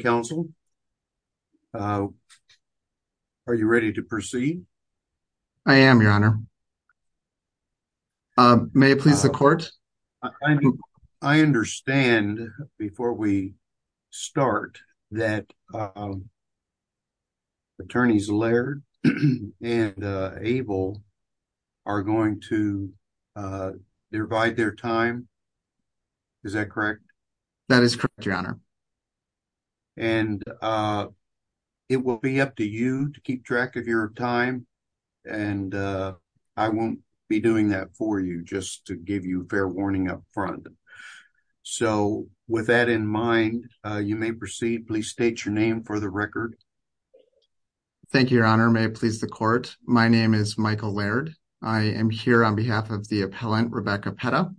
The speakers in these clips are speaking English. Council, are you ready to proceed? I am, your honor. May it please the court? I understand, before we start, that attorneys Laird and Abel are going to give you a fair warning. It will be up to you to keep track of your time. I won't be doing that for you, just to give you a fair warning up front. So, with that in mind, you may proceed. Please state your name for the record. Thank you, your honor. May it please the court? My name is Michael Laird. I am here on behalf of the appellant, Rebecca Petta.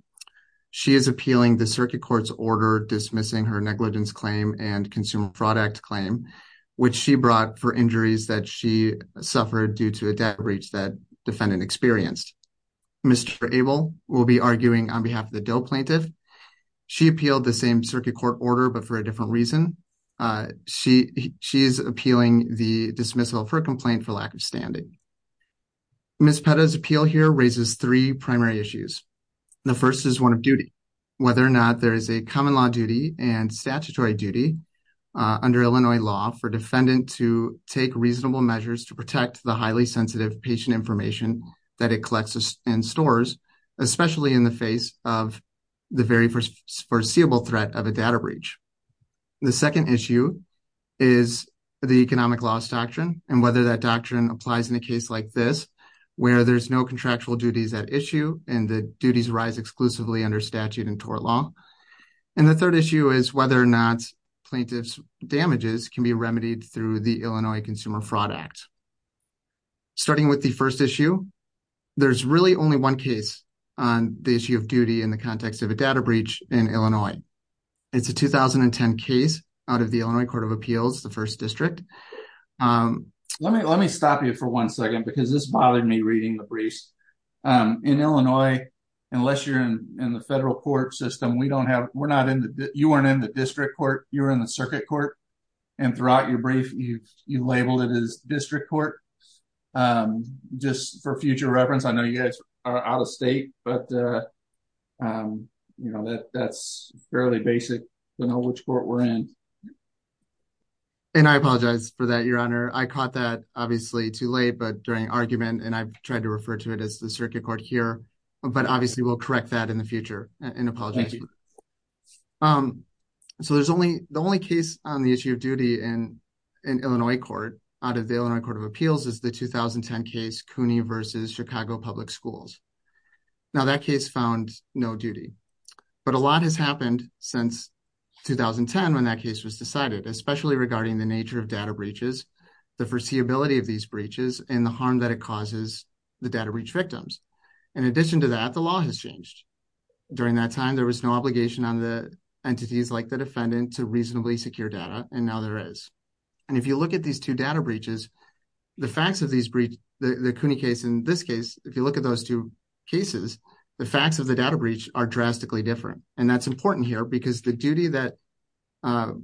She is appealing the circuit court's order dismissing her negligence claim and consumer fraud act claim, which she brought for injuries that she suffered due to a debt breach that defendant experienced. Mr. Abel will be arguing on behalf of the DOE plaintiff. She appealed the same circuit court order, but for a different reason. She is appealing the dismissal of her complaint for lack of standing. Ms. Petta's appeal raises three primary issues. The first is one of duty. Whether or not there is a common law duty and statutory duty under Illinois law for defendant to take reasonable measures to protect the highly sensitive patient information that it collects and stores, especially in the face of the very foreseeable threat of a data breach. The second issue is the economic loss doctrine and whether that doctrine applies in a case like this, where there's no contractual duties at issue and the duties rise exclusively under statute and tort law. And the third issue is whether or not plaintiff's damages can be remedied through the Illinois Consumer Fraud Act. Starting with the first issue, there's really only one case on the issue of duty in the context of a data breach in Illinois. It's a 2010 case out of the Illinois Court of Appeals, the first district. Let me stop you for one second because this bothered me reading the briefs. In Illinois, unless you're in the federal court system, you weren't in the district court, you were in the circuit court. And throughout your brief, you labeled it as district court. Just for future reference, I know you guys are out of state, but that's fairly basic to know which court we're in. And I apologize for that, your honor. I caught that obviously too late, but during argument, and I've tried to refer to it as the circuit court here, but obviously we'll correct that in the future and apologize. So the only case on the issue of duty in Illinois court out of the Illinois Court of Appeals is the 2010 case, CUNY versus Chicago Public Schools. Now that case found no duty, but a lot has happened since 2010 when that case was decided, especially regarding the nature of data breaches, the foreseeability of these breaches, and the harm that it causes the data breach victims. In addition to that, the law has changed. During that time, there was no obligation on the entities like the defendant to reasonably secure data, and now there is. And if you look at these two data breaches, the facts of these breach, the CUNY case in this case, if you look at those two cases, the facts of the data breach are drastically different. And that's important here because the duty that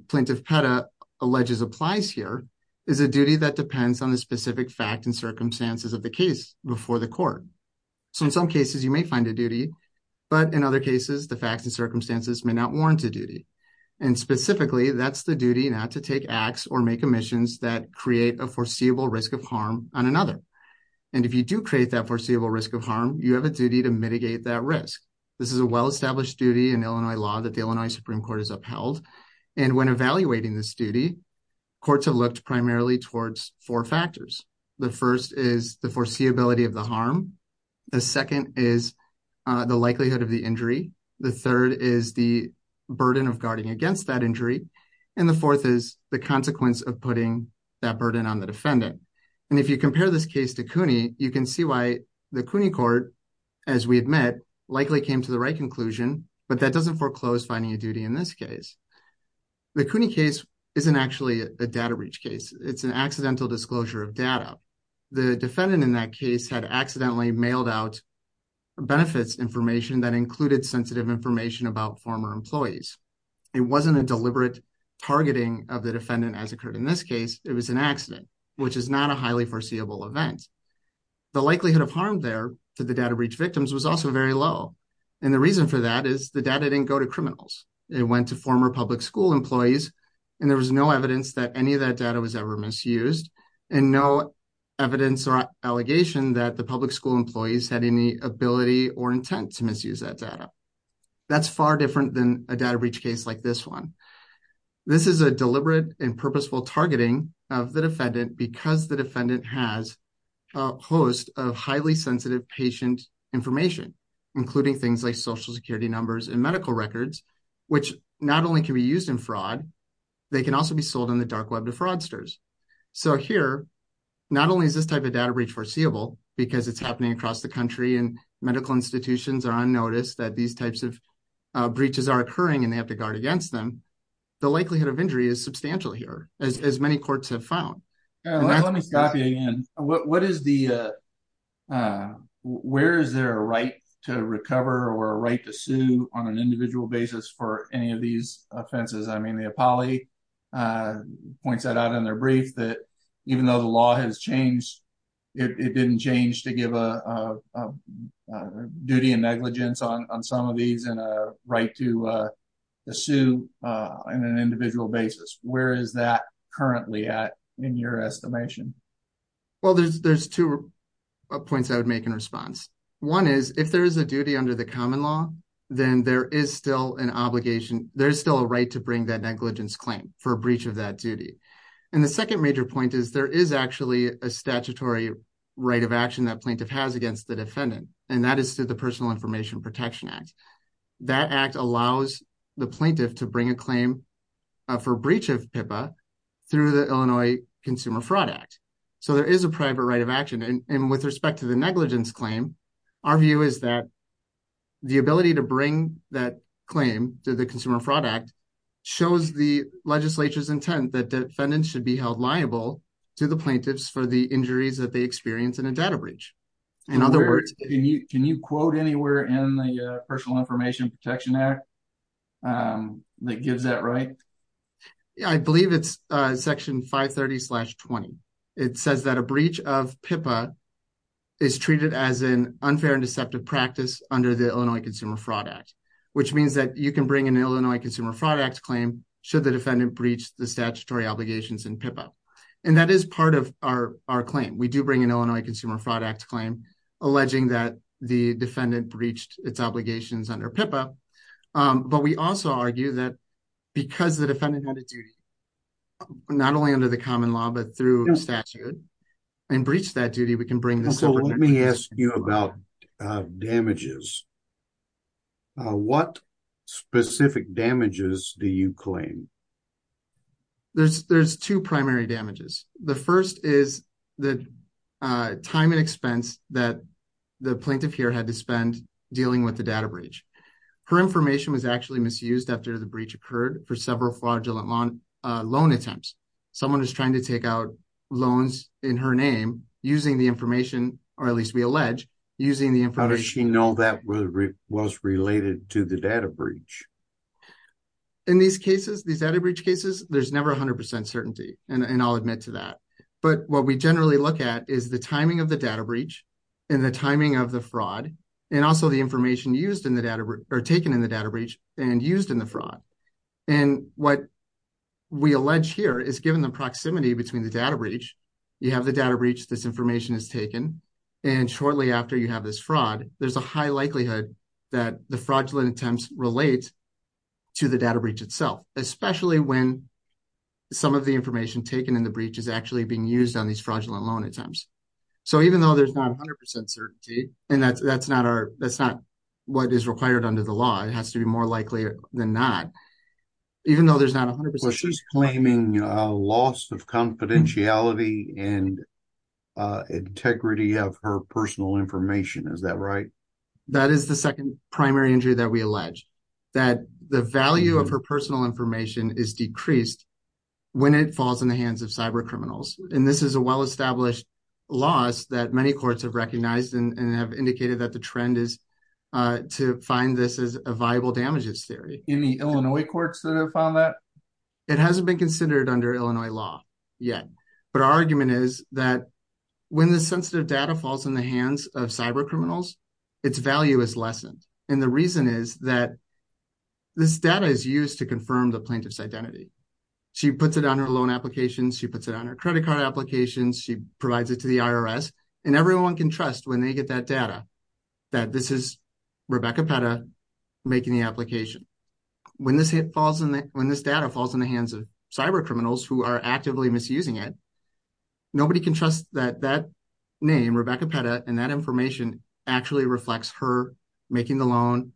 Plaintiff Petta alleges applies here is a duty that depends on the specific fact and circumstances of the case before the court. So in some cases you may find a duty, but in other cases, the facts and circumstances may not warrant a duty. And specifically, that's the duty not to take acts or make omissions that create a foreseeable risk of harm on another. And if you do create that foreseeable risk of harm, you have a duty to mitigate that risk. This is a well-established duty in Illinois law that the Illinois Supreme Court has upheld. And when evaluating this duty, courts have looked primarily towards four factors. The first is the foreseeability of the harm. The second is the likelihood of the injury. The third is the burden of guarding against that consequence of putting that burden on the defendant. And if you compare this case to CUNY, you can see why the CUNY court, as we admit, likely came to the right conclusion, but that doesn't foreclose finding a duty in this case. The CUNY case isn't actually a data breach case. It's an accidental disclosure of data. The defendant in that case had accidentally mailed out benefits information that included sensitive information about former employees. It wasn't a deliberate targeting of the defendant as occurred in this case. It was an accident, which is not a highly foreseeable event. The likelihood of harm there to the data breach victims was also very low. And the reason for that is the data didn't go to criminals. It went to former public school employees, and there was no evidence that any of that data was ever misused and no evidence or allegation that the public school employees had any ability or intent to misuse that data. That's far different than a data breach case like this one. This is a deliberate and purposeful targeting of the defendant because the defendant has a host of highly sensitive patient information, including things like social security numbers and medical records, which not only can be used in fraud, they can also be sold on the dark web to fraudsters. So here, not only is this type of data breach foreseeable because it's happening across the notice that these types of breaches are occurring and they have to guard against them, the likelihood of injury is substantial here, as many courts have found. Let me stop you again. Where is there a right to recover or a right to sue on an individual basis for any of these offenses? I mean, the Apollo points that out in their brief that even though law has changed, it didn't change to give a duty and negligence on some of these and a right to sue on an individual basis. Where is that currently at in your estimation? Well, there's two points I would make in response. One is, if there is a duty under the common law, then there is still an obligation, there's still a right to bring that negligence claim for a statutory right of action that plaintiff has against the defendant, and that is through the Personal Information Protection Act. That act allows the plaintiff to bring a claim for breach of PIPA through the Illinois Consumer Fraud Act. So there is a private right of action. And with respect to the negligence claim, our view is that the ability to bring that claim to the Consumer Fraud Act shows the legislature's intent that defendants should be held liable to the plaintiffs for the injuries that they experience in a data breach. Can you quote anywhere in the Personal Information Protection Act that gives that right? I believe it's section 530-20. It says that a breach of PIPA is treated as an unfair and deceptive practice under the Illinois Consumer Fraud Act, which means that you can bring an Illinois Consumer Fraud Act claim should the defendant breach the statutory obligations in that case. And that is part of our claim. We do bring an Illinois Consumer Fraud Act claim alleging that the defendant breached its obligations under PIPA, but we also argue that because the defendant had a duty, not only under the common law, but through statute, and breached that duty, we can bring this. So let me ask you about damages. What specific damages do you claim? There's two primary damages. The first is the time and expense that the plaintiff here had to spend dealing with the data breach. Her information was actually misused after the breach occurred for several fraudulent loan attempts. Someone is trying to take out loans in her name using the information, or at least we allege, using the information. Did she know that was related to the data breach? In these cases, these data breach cases, there's never 100% certainty, and I'll admit to that. But what we generally look at is the timing of the data breach, and the timing of the fraud, and also the information used in the data, or taken in the data breach, and used in the fraud. And what we allege here is given the proximity between the data breach, you have the data breach, this information is taken, and shortly after you have this fraud, there's a high likelihood that the fraudulent attempts relate to the data breach itself, especially when some of the information taken in the breach is actually being used on these fraudulent loan attempts. So even though there's not 100% certainty, and that's not what is required under the law, it has to be more likely than not, even though there's not 100% She's claiming a loss of confidentiality and integrity of her personal information, is that right? That is the second primary injury that we allege, that the value of her personal information is decreased when it falls in the hands of cyber criminals. And this is a well-established loss that many courts have recognized, and have indicated that the trend is to find this as viable damages theory. Any Illinois courts that have found that? It hasn't been considered under Illinois law yet, but our argument is that when the sensitive data falls in the hands of cyber criminals, its value is lessened. And the reason is that this data is used to confirm the plaintiff's identity. She puts it on her loan applications, she puts it on her credit card applications, she provides it to the IRS, and everyone can trust when they get that data that this is Rebecca Petta making the application. When this data falls in the hands of cyber criminals who are actively misusing it, nobody can trust that that name, Rebecca Petta, and that information actually reflects her making the loan,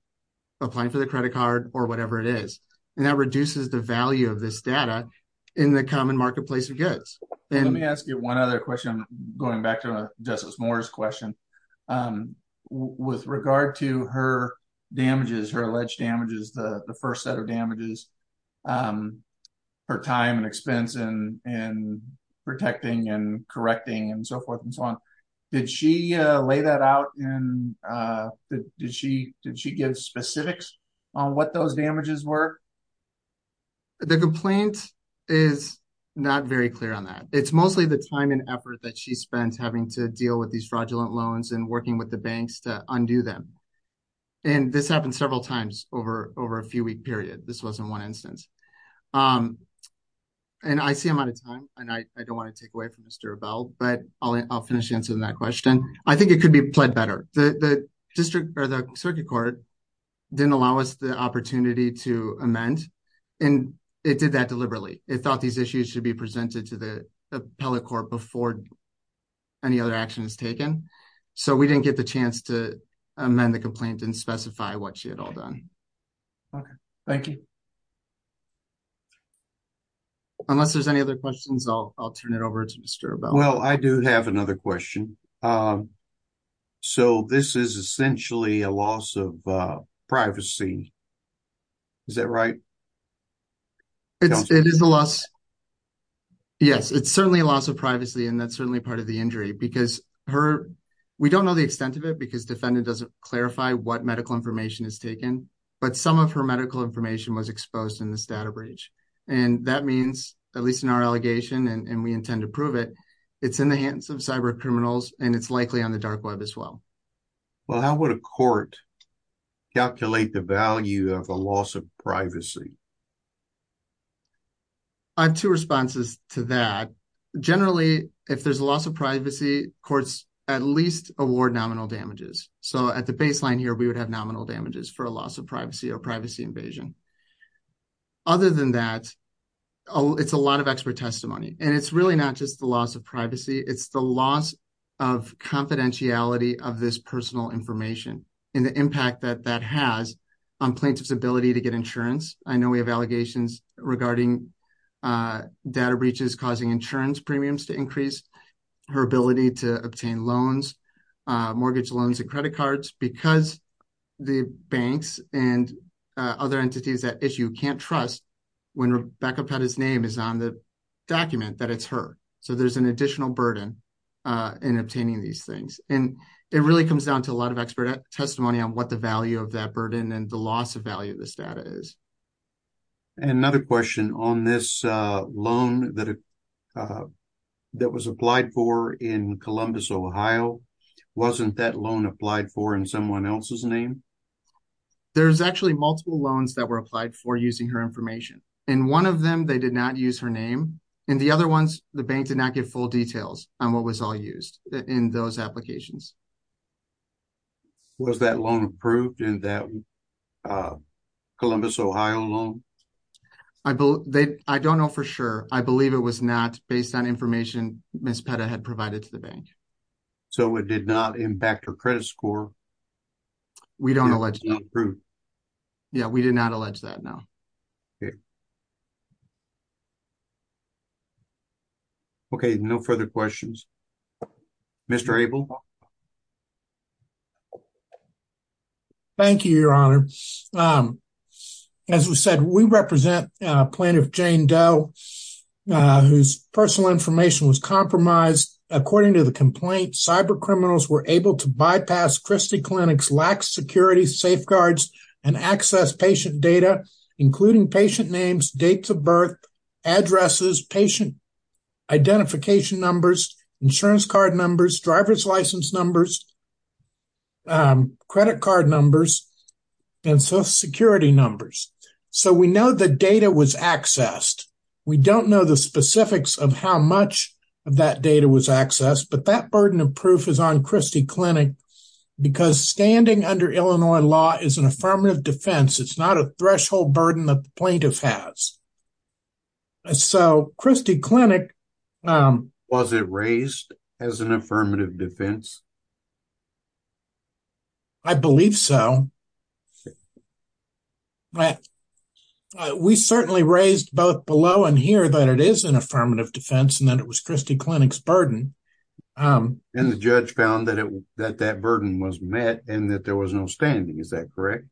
applying for the credit card, or whatever it is. And that reduces the value of this data in the common marketplace of goods. Let me ask you one other question, going back to Justice Moore's question. With regard to her damages, her alleged damages, the first set of damages, her time and expense in protecting and correcting and so forth and so on, did she lay that out? Did she give specifics on what those damages were? The complaint is not very clear on that. It's mostly the time and effort that she had to deal with these fraudulent loans and working with the banks to undo them. This happened several times over a few-week period. This wasn't one instance. I see I'm out of time, and I don't want to take away from Mr. Rebell, but I'll finish answering that question. I think it could be pled better. The Circuit Court didn't allow us the opportunity to amend, and it did that deliberately. It thought these issues should be presented to the Court before any other action is taken. So we didn't get the chance to amend the complaint and specify what she had all done. Okay. Thank you. Unless there's any other questions, I'll turn it over to Mr. Rebell. Well, I do have another question. So this is essentially a loss of privacy. Is that right? It is a loss. Yes, it's certainly a loss of privacy, and that's certainly part of the injury because we don't know the extent of it because defendant doesn't clarify what medical information is taken, but some of her medical information was exposed in this data breach. And that means, at least in our allegation, and we intend to prove it, it's in the hands of cyber criminals, and it's likely on the dark web as well. Well, how would a court calculate the value of a loss of privacy? I have two responses to that. Generally, if there's a loss of privacy, courts at least award nominal damages. So at the baseline here, we would have nominal damages for a loss of privacy or privacy invasion. Other than that, it's a lot of expert testimony, and it's really not just the loss of privacy. It's the loss of confidentiality of this personal information and the impact that that has on plaintiff's ability to get insurance. I know we've had a lot of cases where plaintiffs have allegations regarding data breaches causing insurance premiums to increase, her ability to obtain loans, mortgage loans, and credit cards because the banks and other entities at issue can't trust when Rebecca Pettis' name is on the document that it's her. So there's an additional burden in obtaining these things. And it really comes down to a lot of expert testimony on what the value of that burden and the loss of value of this data is. And another question on this loan that was applied for in Columbus, Ohio, wasn't that loan applied for in someone else's name? There's actually multiple loans that were applied for using her information. In one of them, they did not use her name. In the other ones, the bank did not give full details on what was used in those applications. Was that loan approved in that Columbus, Ohio loan? I don't know for sure. I believe it was not based on information Ms. Pettis had provided to the bank. So it did not impact her credit score? We don't allege that. Yeah, we did not allege that, no. Okay. Okay, no further questions. Mr. Abel? Thank you, Your Honor. As we said, we represent plaintiff Jane Doe, whose personal information was compromised. According to the complaint, cyber criminals were able to bypass Christie Clinic's lax security safeguards and access patient data, including patient names, dates of birth, addresses, patient identification numbers, insurance card numbers, driver's license numbers, credit card numbers, and social security numbers. So we know the data was accessed. We don't know the specifics of how much of that data was accessed, but that burden of proof is on Christie Clinic, because standing under Illinois law is an affirmative defense. It's not a threshold burden that the plaintiff has. So Christie Clinic... Was it raised as an affirmative defense? I believe so. We certainly raised both below and here that it is an affirmative defense and that it was burden was met and that there was no standing. Is that correct?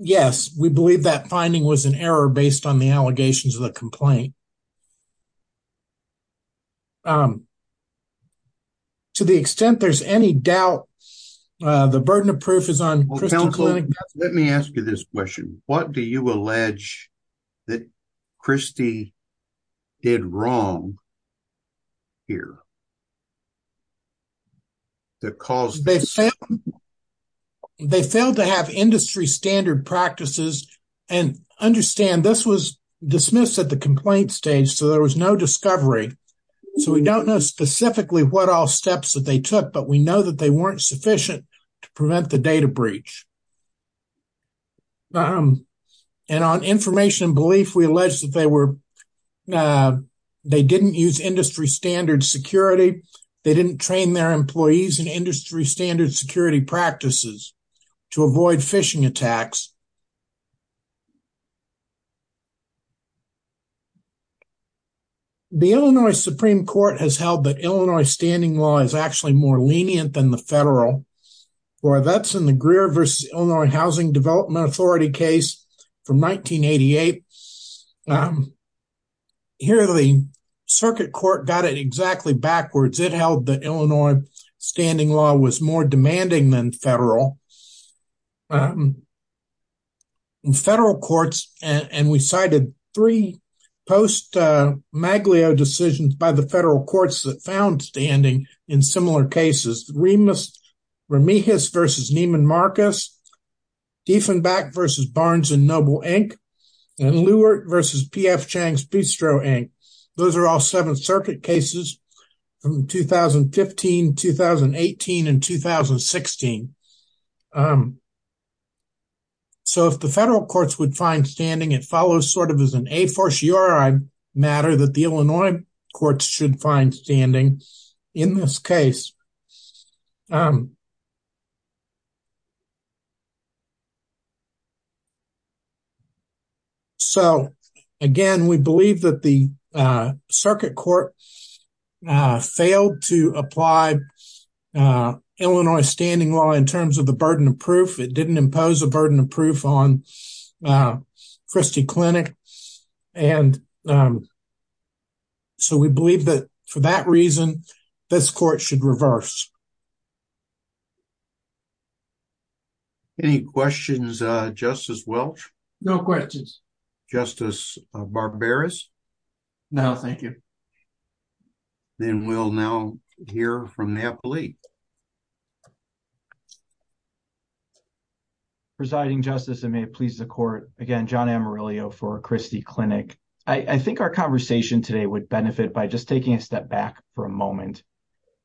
Yes, we believe that finding was an error based on the allegations of the complaint. To the extent there's any doubt, the burden of proof is on Christie Clinic. Let me ask you this question. What do you allege that Christie did wrong here? They failed to have industry standard practices. And understand this was dismissed at the complaint stage, so there was no discovery. So we don't know specifically what all steps that they took, but we know that they weren't sufficient to prevent the data breach. And on information and belief, we allege that they didn't use industry standard security. They didn't train their employees in industry standard security practices to avoid phishing attacks. The Illinois Supreme Court has held that Illinois standing law is actually more lenient than the federal or that's in the Greer versus Illinois Housing Development Authority case from 2009. The Illinois Supreme Court has held that Illinois standing law was more demanding than federal. In federal courts, and we cited three post-Maglio decisions by the federal courts that found standing in similar cases, Remus, Ramirez versus Neiman Marcus, Diefenbach versus Barnes Noble Inc., and Lewert versus P.F. Chang's Bistro Inc. Those are all Seventh Circuit cases from 2015, 2018, and 2016. So if the federal courts would find standing, it follows sort of an a fortiori matter that the Illinois courts should find standing in this case. So again, we believe that the circuit court failed to apply Illinois standing law in terms of the burden of proof. It didn't impose a burden of proof on Christie Clinic, and so we believe that for that reason, this court should reverse. Any questions, Justice Welch? No questions. Justice Barberis? No, thank you. Then we'll now hear from the appellee. Thank you. Presiding Justice, and may it please the court, again, John Amarillo for Christie Clinic. I think our conversation today would benefit by just taking a step back for a moment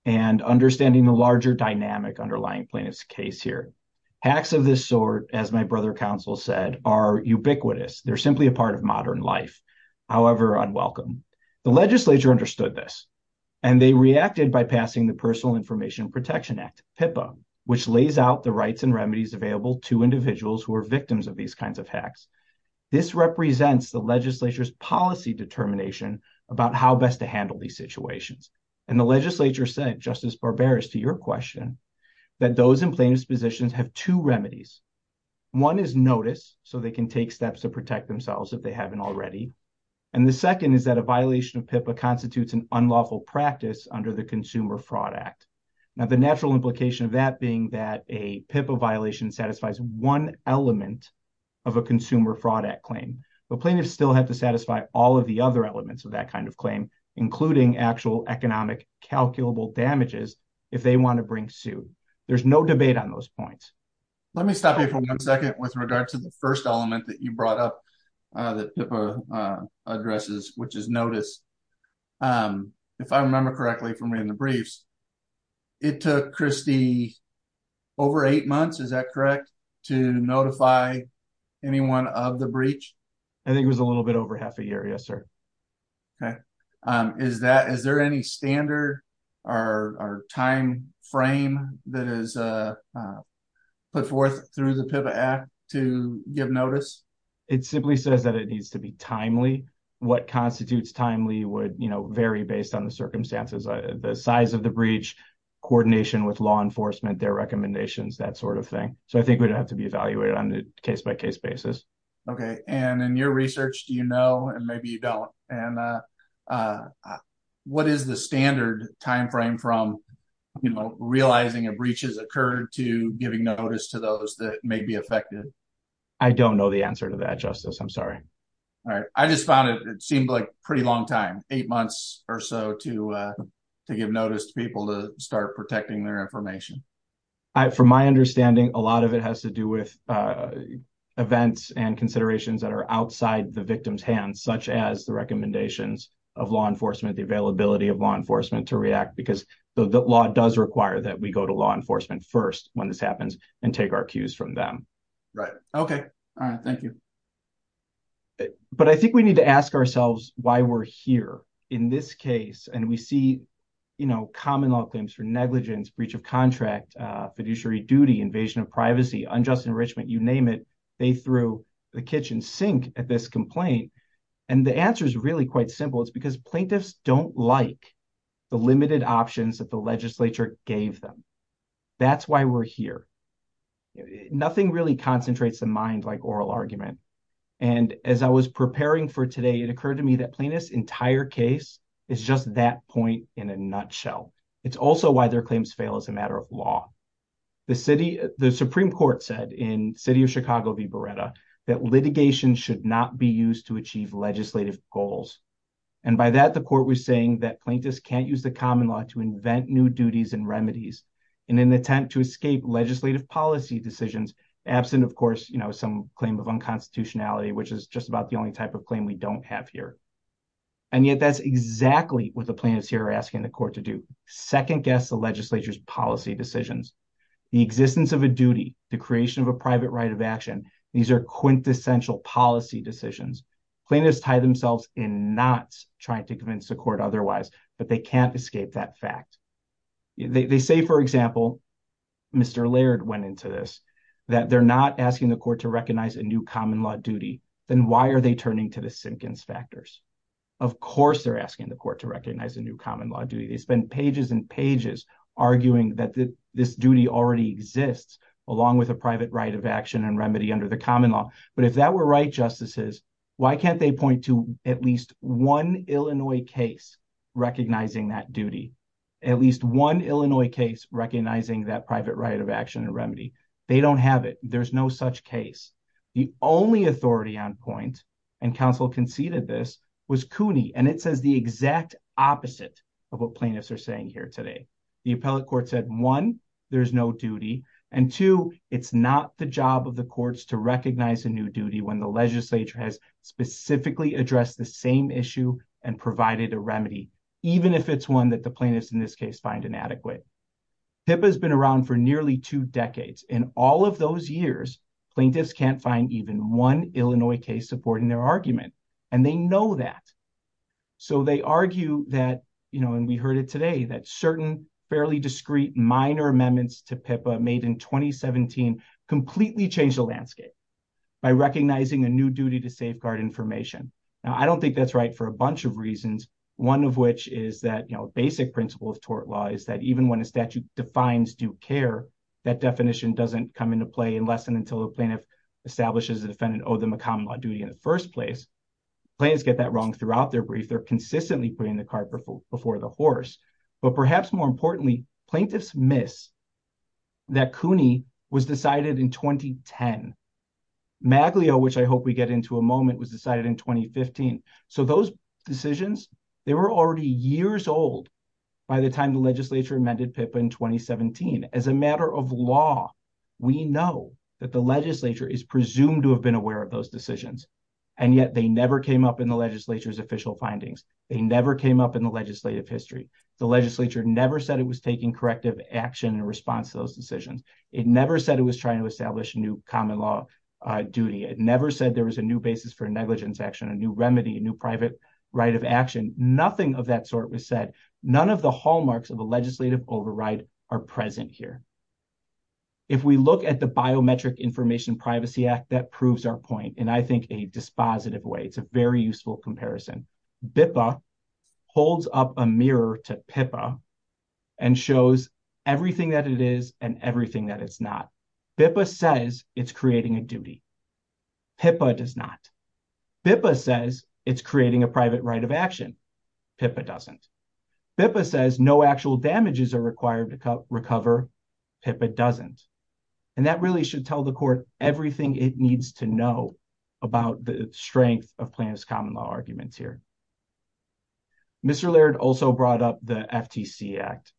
and understanding the larger dynamic underlying plaintiff's case here. Hacks of this sort, as my brother counsel said, are ubiquitous. They're simply a part of modern life, however unwelcome. The legislature understood this, and they reacted by passing the Personal Information Protection Act, PIPA, which lays out the rights and remedies available to individuals who are victims of these kinds of hacks. This represents the legislature's policy determination about how best to handle these situations, and the legislature said, Justice Barberis, to your question, that those in plaintiff's positions have two remedies. One is notice, so they can take steps to protect themselves if they haven't already, and the second is that a Now, the natural implication of that being that a PIPA violation satisfies one element of a consumer fraud act claim, but plaintiffs still have to satisfy all of the other elements of that kind of claim, including actual economic calculable damages if they want to bring suit. There's no debate on those points. Let me stop you for one second with regard to the first element that you brought up that PIPA addresses, which is notice. If I remember correctly from reading the briefs, it took Christy over eight months, is that correct, to notify anyone of the breach? I think it was a little bit over half a year, yes, sir. Okay. Is there any standard or time frame that is put forth through the PIPA Act to give notice? It simply says that it needs to be timely. What constitutes timely would vary based on the size of the breach, coordination with law enforcement, their recommendations, that sort of thing. I think it would have to be evaluated on a case-by-case basis. Okay. In your research, do you know, and maybe you don't, what is the standard time frame from realizing a breach has occurred to giving notice to those that may be affected? I don't know the answer to that, Justice. I'm sorry. All right. I just found it seemed like a pretty long time, eight months or so to give notice to people to start protecting their information. From my understanding, a lot of it has to do with events and considerations that are outside the victim's hands, such as the recommendations of law enforcement, the availability of law enforcement to react because the law does require that we go to law enforcement first when this happens and take our cues from them. Right. Okay. All right. Thank you. But I think we need to ask ourselves why we're here in this case. And we see, you know, common law claims for negligence, breach of contract, fiduciary duty, invasion of privacy, unjust enrichment, you name it. They threw the kitchen sink at this complaint. And the answer is really quite simple. It's because plaintiffs don't like the limited options that the legislature gave them. That's why we're here. Nothing really concentrates the mind like oral argument. And as I was preparing for today, it occurred to me that plaintiff's entire case is just that point in a nutshell. It's also why their claims fail as a matter of law. The city, the Supreme Court said in city of Chicago v. Beretta that litigation should not be used to achieve legislative goals. And by that, the court was saying that plaintiffs can't use the common law to invent new duties and remedies in an attempt to escape legislative policy decisions. Absent, of course, some claim of unconstitutionality, which is just about the only type of claim we don't have here. And yet that's exactly what the plaintiffs here are asking the court to do. Second guess the legislature's policy decisions. The existence of a duty, the creation of a private right of action, these are quintessential policy decisions. Plaintiffs tie themselves in knots trying to convince the court otherwise, but they can't escape that fact. They say, for example, Mr. Laird went into this, that they're not asking the court to recognize a new common law duty, then why are they turning to the Sinkins factors? Of course, they're asking the court to recognize a new common law duty. They spend pages and pages arguing that this duty already exists, along with a private right of action and remedy under the common law. But if that were right, justices, why can't they point to at least one Illinois case recognizing that duty? At least one private right of action and remedy. They don't have it. There's no such case. The only authority on point and council conceded this was Cooney. And it says the exact opposite of what plaintiffs are saying here today. The appellate court said, one, there's no duty. And two, it's not the job of the courts to recognize a new duty when the legislature has specifically addressed the same issue and provided a remedy, even if it's one that the plaintiffs in this case find inadequate. PIPA has been around for nearly two decades. In all of those years, plaintiffs can't find even one Illinois case supporting their argument. And they know that. So they argue that, you know, and we heard it today, that certain fairly discreet minor amendments to PIPA made in 2017 completely changed the landscape by recognizing a new duty to safeguard information. Now, I don't think that's right for a bunch of reasons. One of which is that, you know, basic principle of defines due care. That definition doesn't come into play unless and until the plaintiff establishes a defendant owed them a common law duty in the first place. Plaintiffs get that wrong throughout their brief. They're consistently putting the cart before the horse. But perhaps more importantly, plaintiffs miss that Cooney was decided in 2010. Maglio, which I hope we get into a moment, was decided in 2015. So those decisions, they were already years old by the time the legislature amended PIPA in 2017. As a matter of law, we know that the legislature is presumed to have been aware of those decisions. And yet, they never came up in the legislature's official findings. They never came up in the legislative history. The legislature never said it was taking corrective action in response to those decisions. It never said it was trying to establish a new common law duty. It never said there was a new basis for negligence action, a new remedy, a new private right of action. Nothing of that sort was said. None of the hallmarks of a legislative override are present here. If we look at the Biometric Information Privacy Act, that proves our point in, I think, a dispositive way. It's a very useful comparison. BIPA holds up a mirror to PIPA and shows everything that it is and that it's not. BIPA says it's creating a duty. PIPA does not. BIPA says it's creating a private right of action. PIPA doesn't. BIPA says no actual damages are required to recover. PIPA doesn't. And that really should tell the court everything it needs to know about the strength of Plano's common law arguments here. Mr. Laird also brought up the FTC Act.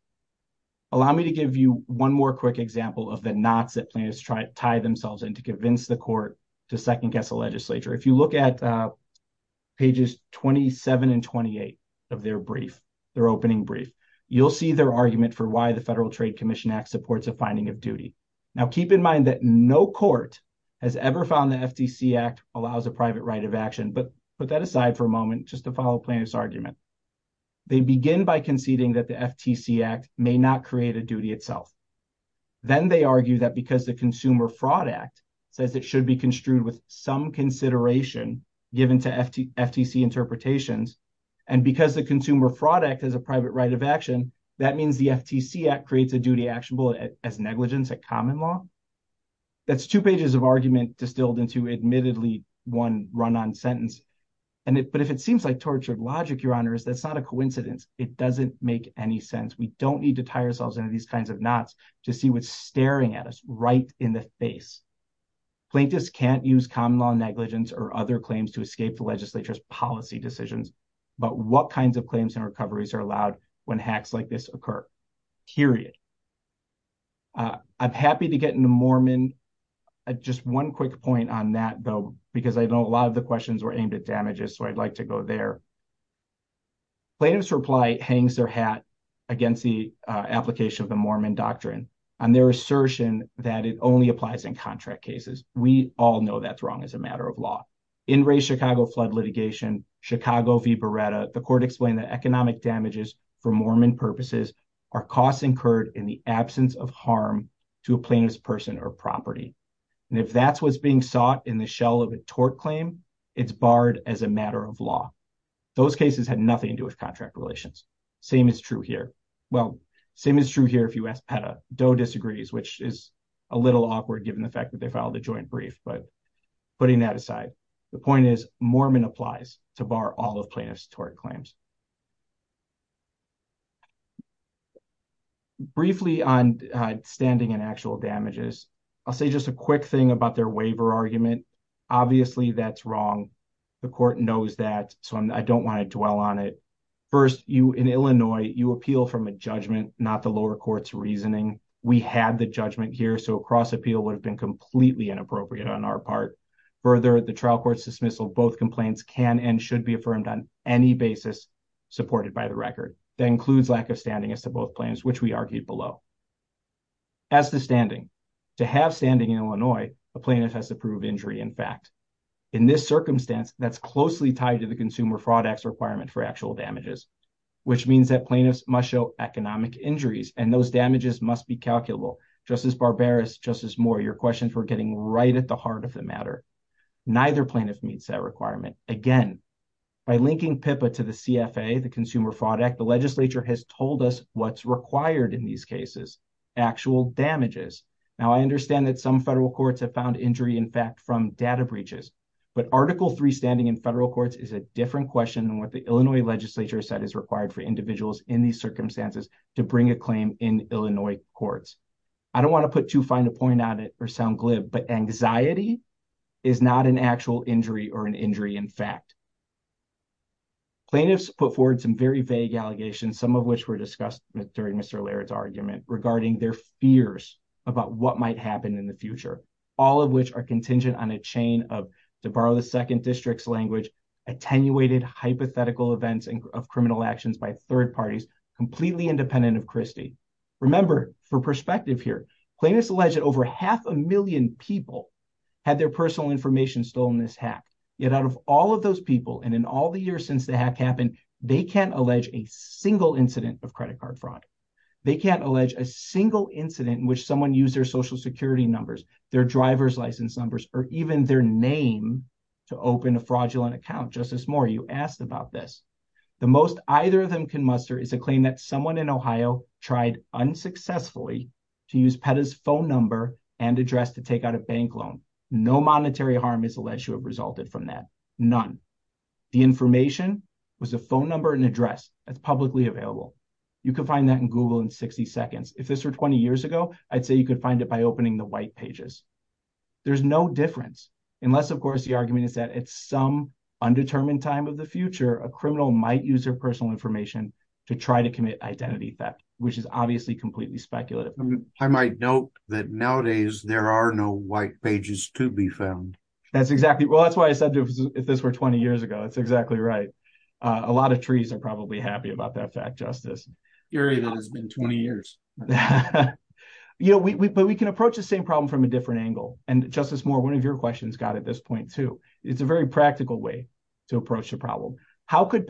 Allow me to give you one more example of the knots that Plano's tie themselves in to convince the court to second-guess the legislature. If you look at pages 27 and 28 of their opening brief, you'll see their argument for why the Federal Trade Commission Act supports a finding of duty. Now, keep in mind that no court has ever found the FTC Act allows a private right of action. But put that aside for a moment just to follow Plano's argument. They begin by conceding that the FTC Act may not create a duty itself. Then they argue that because the Consumer Fraud Act says it should be construed with some consideration given to FTC interpretations, and because the Consumer Fraud Act has a private right of action, that means the FTC Act creates a duty actionable as negligence at common law. That's two pages of argument distilled into admittedly one run-on sentence. But if it seems like tortured logic, Your Honors, that's not a coincidence. It doesn't make any sense. We don't need to tie ourselves into these kinds of knots to see what's staring at us right in the face. Plaintiffs can't use common law negligence or other claims to escape the legislature's policy decisions. But what kinds of claims and recoveries are allowed when hacks like this occur? Period. I'm happy to get into Mormon. Just one quick point on that, though, because I know a lot of the questions were aimed at damages, so I'd like to go there. Plano's reply hangs their hat against the application of the Mormon doctrine on their assertion that it only applies in contract cases. We all know that's wrong as a matter of law. In Ray's Chicago flood litigation, Chicago v. Beretta, the court explained that economic damages for Mormon purposes are costs incurred in the absence of harm to a plaintiff's person or property. And if that's what's being sought in the shell of a tort claim, it's barred as a matter of law. Those cases had nothing to do with contract relations. Same is true here. Well, same is true here if you ask Petta. Doe disagrees, which is a little awkward given the fact that they filed a joint brief. But putting that aside, the point is Mormon applies to bar all of plaintiff's tort claims. Briefly on standing and actual damages, I'll say just a quick thing about their waiver argument. Obviously, that's wrong. The court knows that, so I don't want to dwell on it. First, in Illinois, you appeal from a judgment, not the lower court's reasoning. We had the judgment here, so a cross-appeal would have been completely inappropriate on our part. Further, the trial court's dismissal of both complaints can and should be affirmed on any basis supported by the record. That includes lack of standing as to both claims, which we argued below. As to standing, to have standing in Illinois, a plaintiff has to prove injury in fact. In this circumstance, that's closely tied to the Consumer Fraud Act's requirement for actual damages, which means that plaintiffs must show economic injuries, and those damages must be calculable. Justice Barberis, Justice Moore, your questions were getting right at the heart of the matter. Neither plaintiff meets that requirement. Again, by linking PIPA to the CFA, the Consumer Fraud Act's requirement for actual damages. Now, I understand that some federal courts have found injury in fact from data breaches, but Article III standing in federal courts is a different question than what the Illinois legislature said is required for individuals in these circumstances to bring a claim in Illinois courts. I don't want to put too fine a point on it or sound glib, but anxiety is not an actual injury or an injury in fact. Plaintiffs put forward some very vague allegations, some of which were discussed during Mr. Laird's argument regarding their fears about what might happen in the future, all of which are contingent on a chain of, to borrow the second district's language, attenuated hypothetical events of criminal actions by third parties, completely independent of Christie. Remember, for perspective here, plaintiffs allege that over half a million people had their personal information stolen in this hack, yet out of all of those people and in all the years since the hack happened, they can't allege a single incident of credit card fraud. They can't allege a single incident in which someone used their social security numbers, their driver's license numbers, or even their name to open a fraudulent account. Justice Moore, you asked about this. The most either of them can muster is a claim that someone in Ohio tried unsuccessfully to use PETA's phone number and address to take out a bank loan. No monetary harm is alleged to have resulted from that. None. The information was a phone number and address that's publicly available. You can find that in Google in 60 seconds. If this were 20 years ago, I'd say you could find it by opening the white pages. There's no difference unless, of course, the argument is that at some undetermined time of the future, a criminal might use their personal information to try to commit identity theft, which is obviously completely speculative. I might note that nowadays there are no white pages to be found. That's exactly, well, that's why I said if this were 20 years ago, it's exactly right. A lot of trees are probably happy about that fact, Justice. It has been 20 years. You know, but we can approach the same problem from a different angle. And Justice Moore, one of your questions got at this point too. It's a very practical way to approach the problem. How could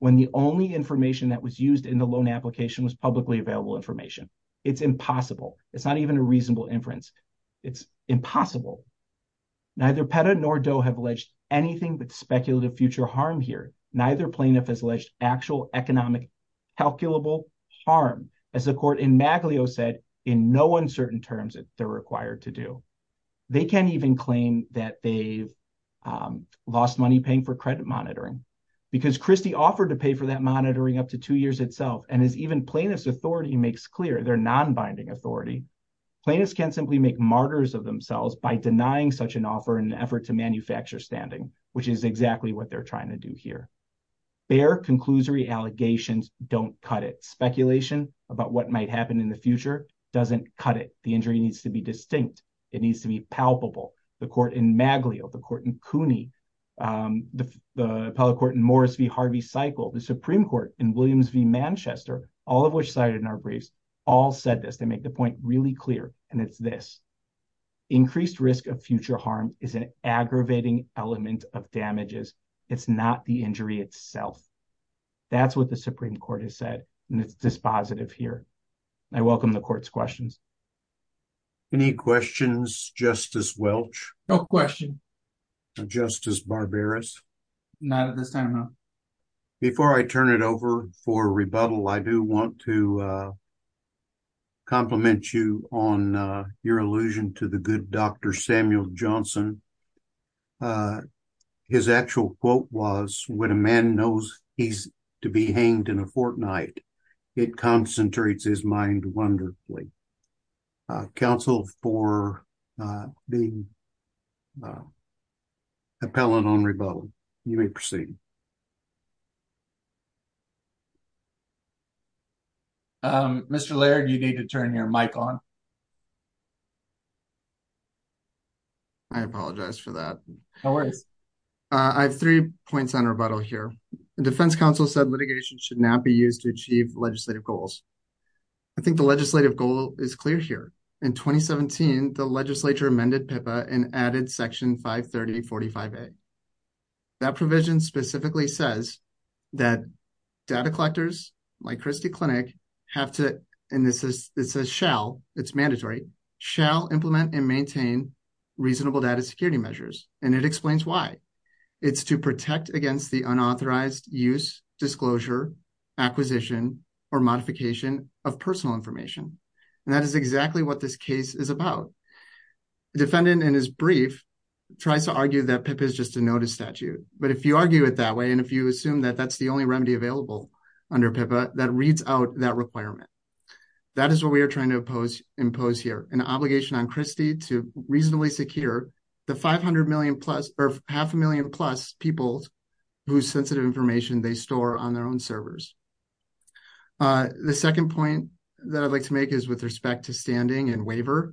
when the only information that was used in the loan application was publicly available information? It's impossible. It's not even a reasonable inference. It's impossible. Neither PETA nor DOE have alleged anything but speculative future harm here. Neither plaintiff has alleged actual economic calculable harm, as the court in Maglio said, in no uncertain terms that they're required to do. They can't even claim that they've lost money paying for credit monitoring because Christie offered to pay for that monitoring up to two years itself. And as even plaintiff's authority makes clear, their non-binding authority, plaintiffs can simply make martyrs of themselves by denying such an offer in an effort to manufacture standing, which is exactly what they're trying to do here. Bare conclusory allegations don't cut it. Speculation about what might happen in the future doesn't cut it. The injury needs to be distinct. It needs to be palpable. The court in Maglio, the court in Cooney, the appellate court in Morris v. Harvey-Cycle, the Supreme Court in Williams v. Manchester, all of which cited in our briefs, all said this. They make the point really clear, and it's this. Increased risk of future harm is an aggravating element of damages. It's not the injury itself. That's what the Supreme Court has said, and it's dispositive here. I welcome the court's questions. Any questions, Justice Welch? No question. Justice Barberis? Not at this time, no. Before I turn it over for rebuttal, I do want to compliment you on your allusion to the good Dr. Samuel Johnson. His actual quote was, when a man knows he's to be hanged in a fortnight, it concentrates his mind wonderfully. Counsel, for being appellate on rebuttal, you may proceed. Mr. Laird, you need to turn your mic on. I apologize for that. No worries. I have three points on rebuttal here. The defense counsel said litigation should not be used to achieve legislative goals. I think the legislative goal is clear here. In 2017, the legislature amended PIPA and added Section 530.45a. That provision specifically says that data collectors like Christie Clinic have to, and it says shall, it's mandatory, shall implement and maintain reasonable data security measures, and it explains why. It's to protect against the unauthorized use, disclosure, acquisition, or modification of personal information. And that is exactly what this case is about. The defendant, in his brief, tries to argue that PIPA is just a notice statute. But if you argue it that way, and if you assume that that's the only remedy available under PIPA, that reads out that requirement. That is what we are trying to impose here, an obligation on Christie to reasonably secure the 500 million-plus, or half a million-plus people whose sensitive information they store on their own servers. The second point that I'd like to make is with respect to standing and waiver.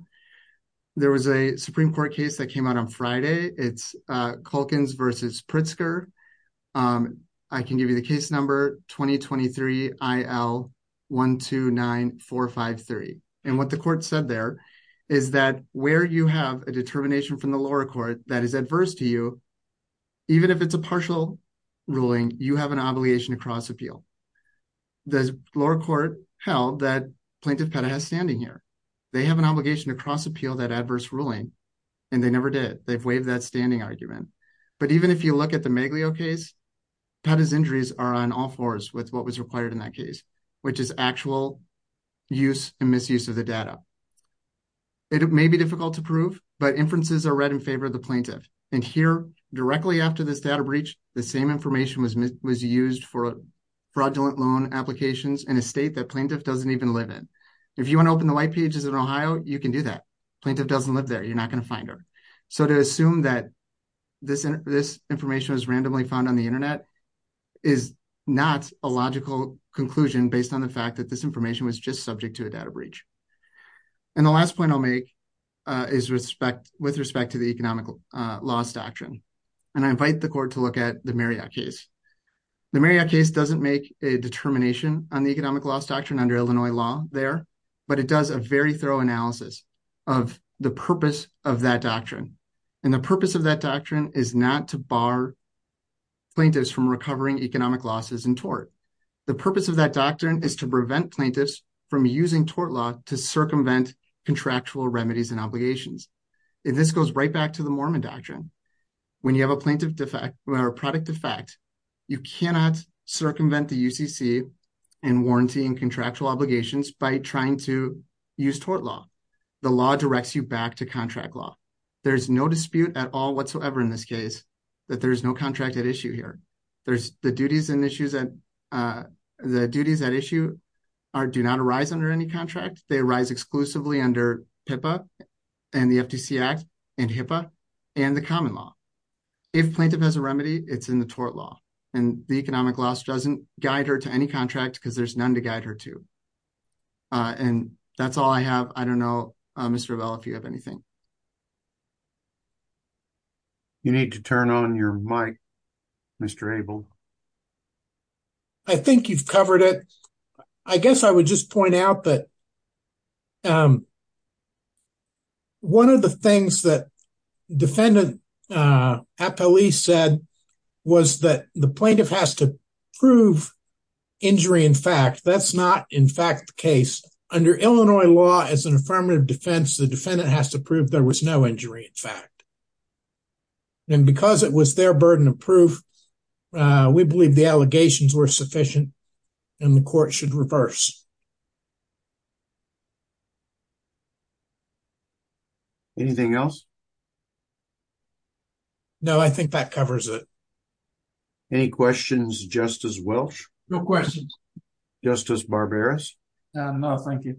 There was a Supreme Court case that came out on Friday. It's Culkins v. Pritzker. I can give you the case number, 2023 IL 129453. And what the court said there is that where you have a determination from the lower court that is adverse to you, even if it's a partial ruling, you have an obligation to cross-appeal. The lower court held that Plaintiff Pettah has standing here. They have an obligation to cross appeal that adverse ruling, and they never did. They've waived that standing argument. But even if you look at the Maglio case, Pettah's injuries are on all fours with what was required in that which is actual use and misuse of the data. It may be difficult to prove, but inferences are read in favor of the plaintiff. And here, directly after this data breach, the same information was used for fraudulent loan applications in a state that plaintiff doesn't even live in. If you want to open the white pages in Ohio, you can do that. Plaintiff doesn't live there. You're not going to find her. So to assume that this information was randomly found on the internet is not a logical conclusion based on the fact that this information was just subject to a data breach. And the last point I'll make is with respect to the economic loss doctrine. And I invite the court to look at the Marriott case. The Marriott case doesn't make a determination on the economic loss doctrine under Illinois law there, but it does a very thorough analysis of the purpose of that doctrine. And the purpose of that plaintiff's from recovering economic losses in tort. The purpose of that doctrine is to prevent plaintiffs from using tort law to circumvent contractual remedies and obligations. And this goes right back to the Mormon doctrine. When you have a plaintiff defect or product defect, you cannot circumvent the UCC and warranty and contractual obligations by trying to use tort law. The law directs you back to contract law. There's no dispute at all whatsoever in this that there is no contract at issue here. There's the duties and issues that the duties that issue do not arise under any contract. They arise exclusively under PIPA and the FTC Act and HIPAA and the common law. If plaintiff has a remedy, it's in the tort law and the economic loss doesn't guide her to any contract because there's none to guide her to. And that's all I have. I don't know, Mr. Bell, if you have anything. You need to turn on your mic, Mr. Abel. I think you've covered it. I guess I would just point out that one of the things that defendant Apele said was that the plaintiff has to prove injury in fact. That's not in fact the case. Under Illinois law as an affirmative defense, the defendant has to prove there was no injury in fact. And because it was their burden of proof, we believe the allegations were sufficient and the court should reverse. Anything else? No, I think that covers it. Any questions, Justice Welch? No questions. Justice Barberis? No, thank you.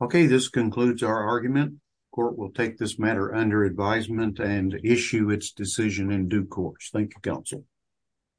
Okay, this concludes our argument. Court will take this matter under advisement and issue its decision in due course. Thank you, counsel.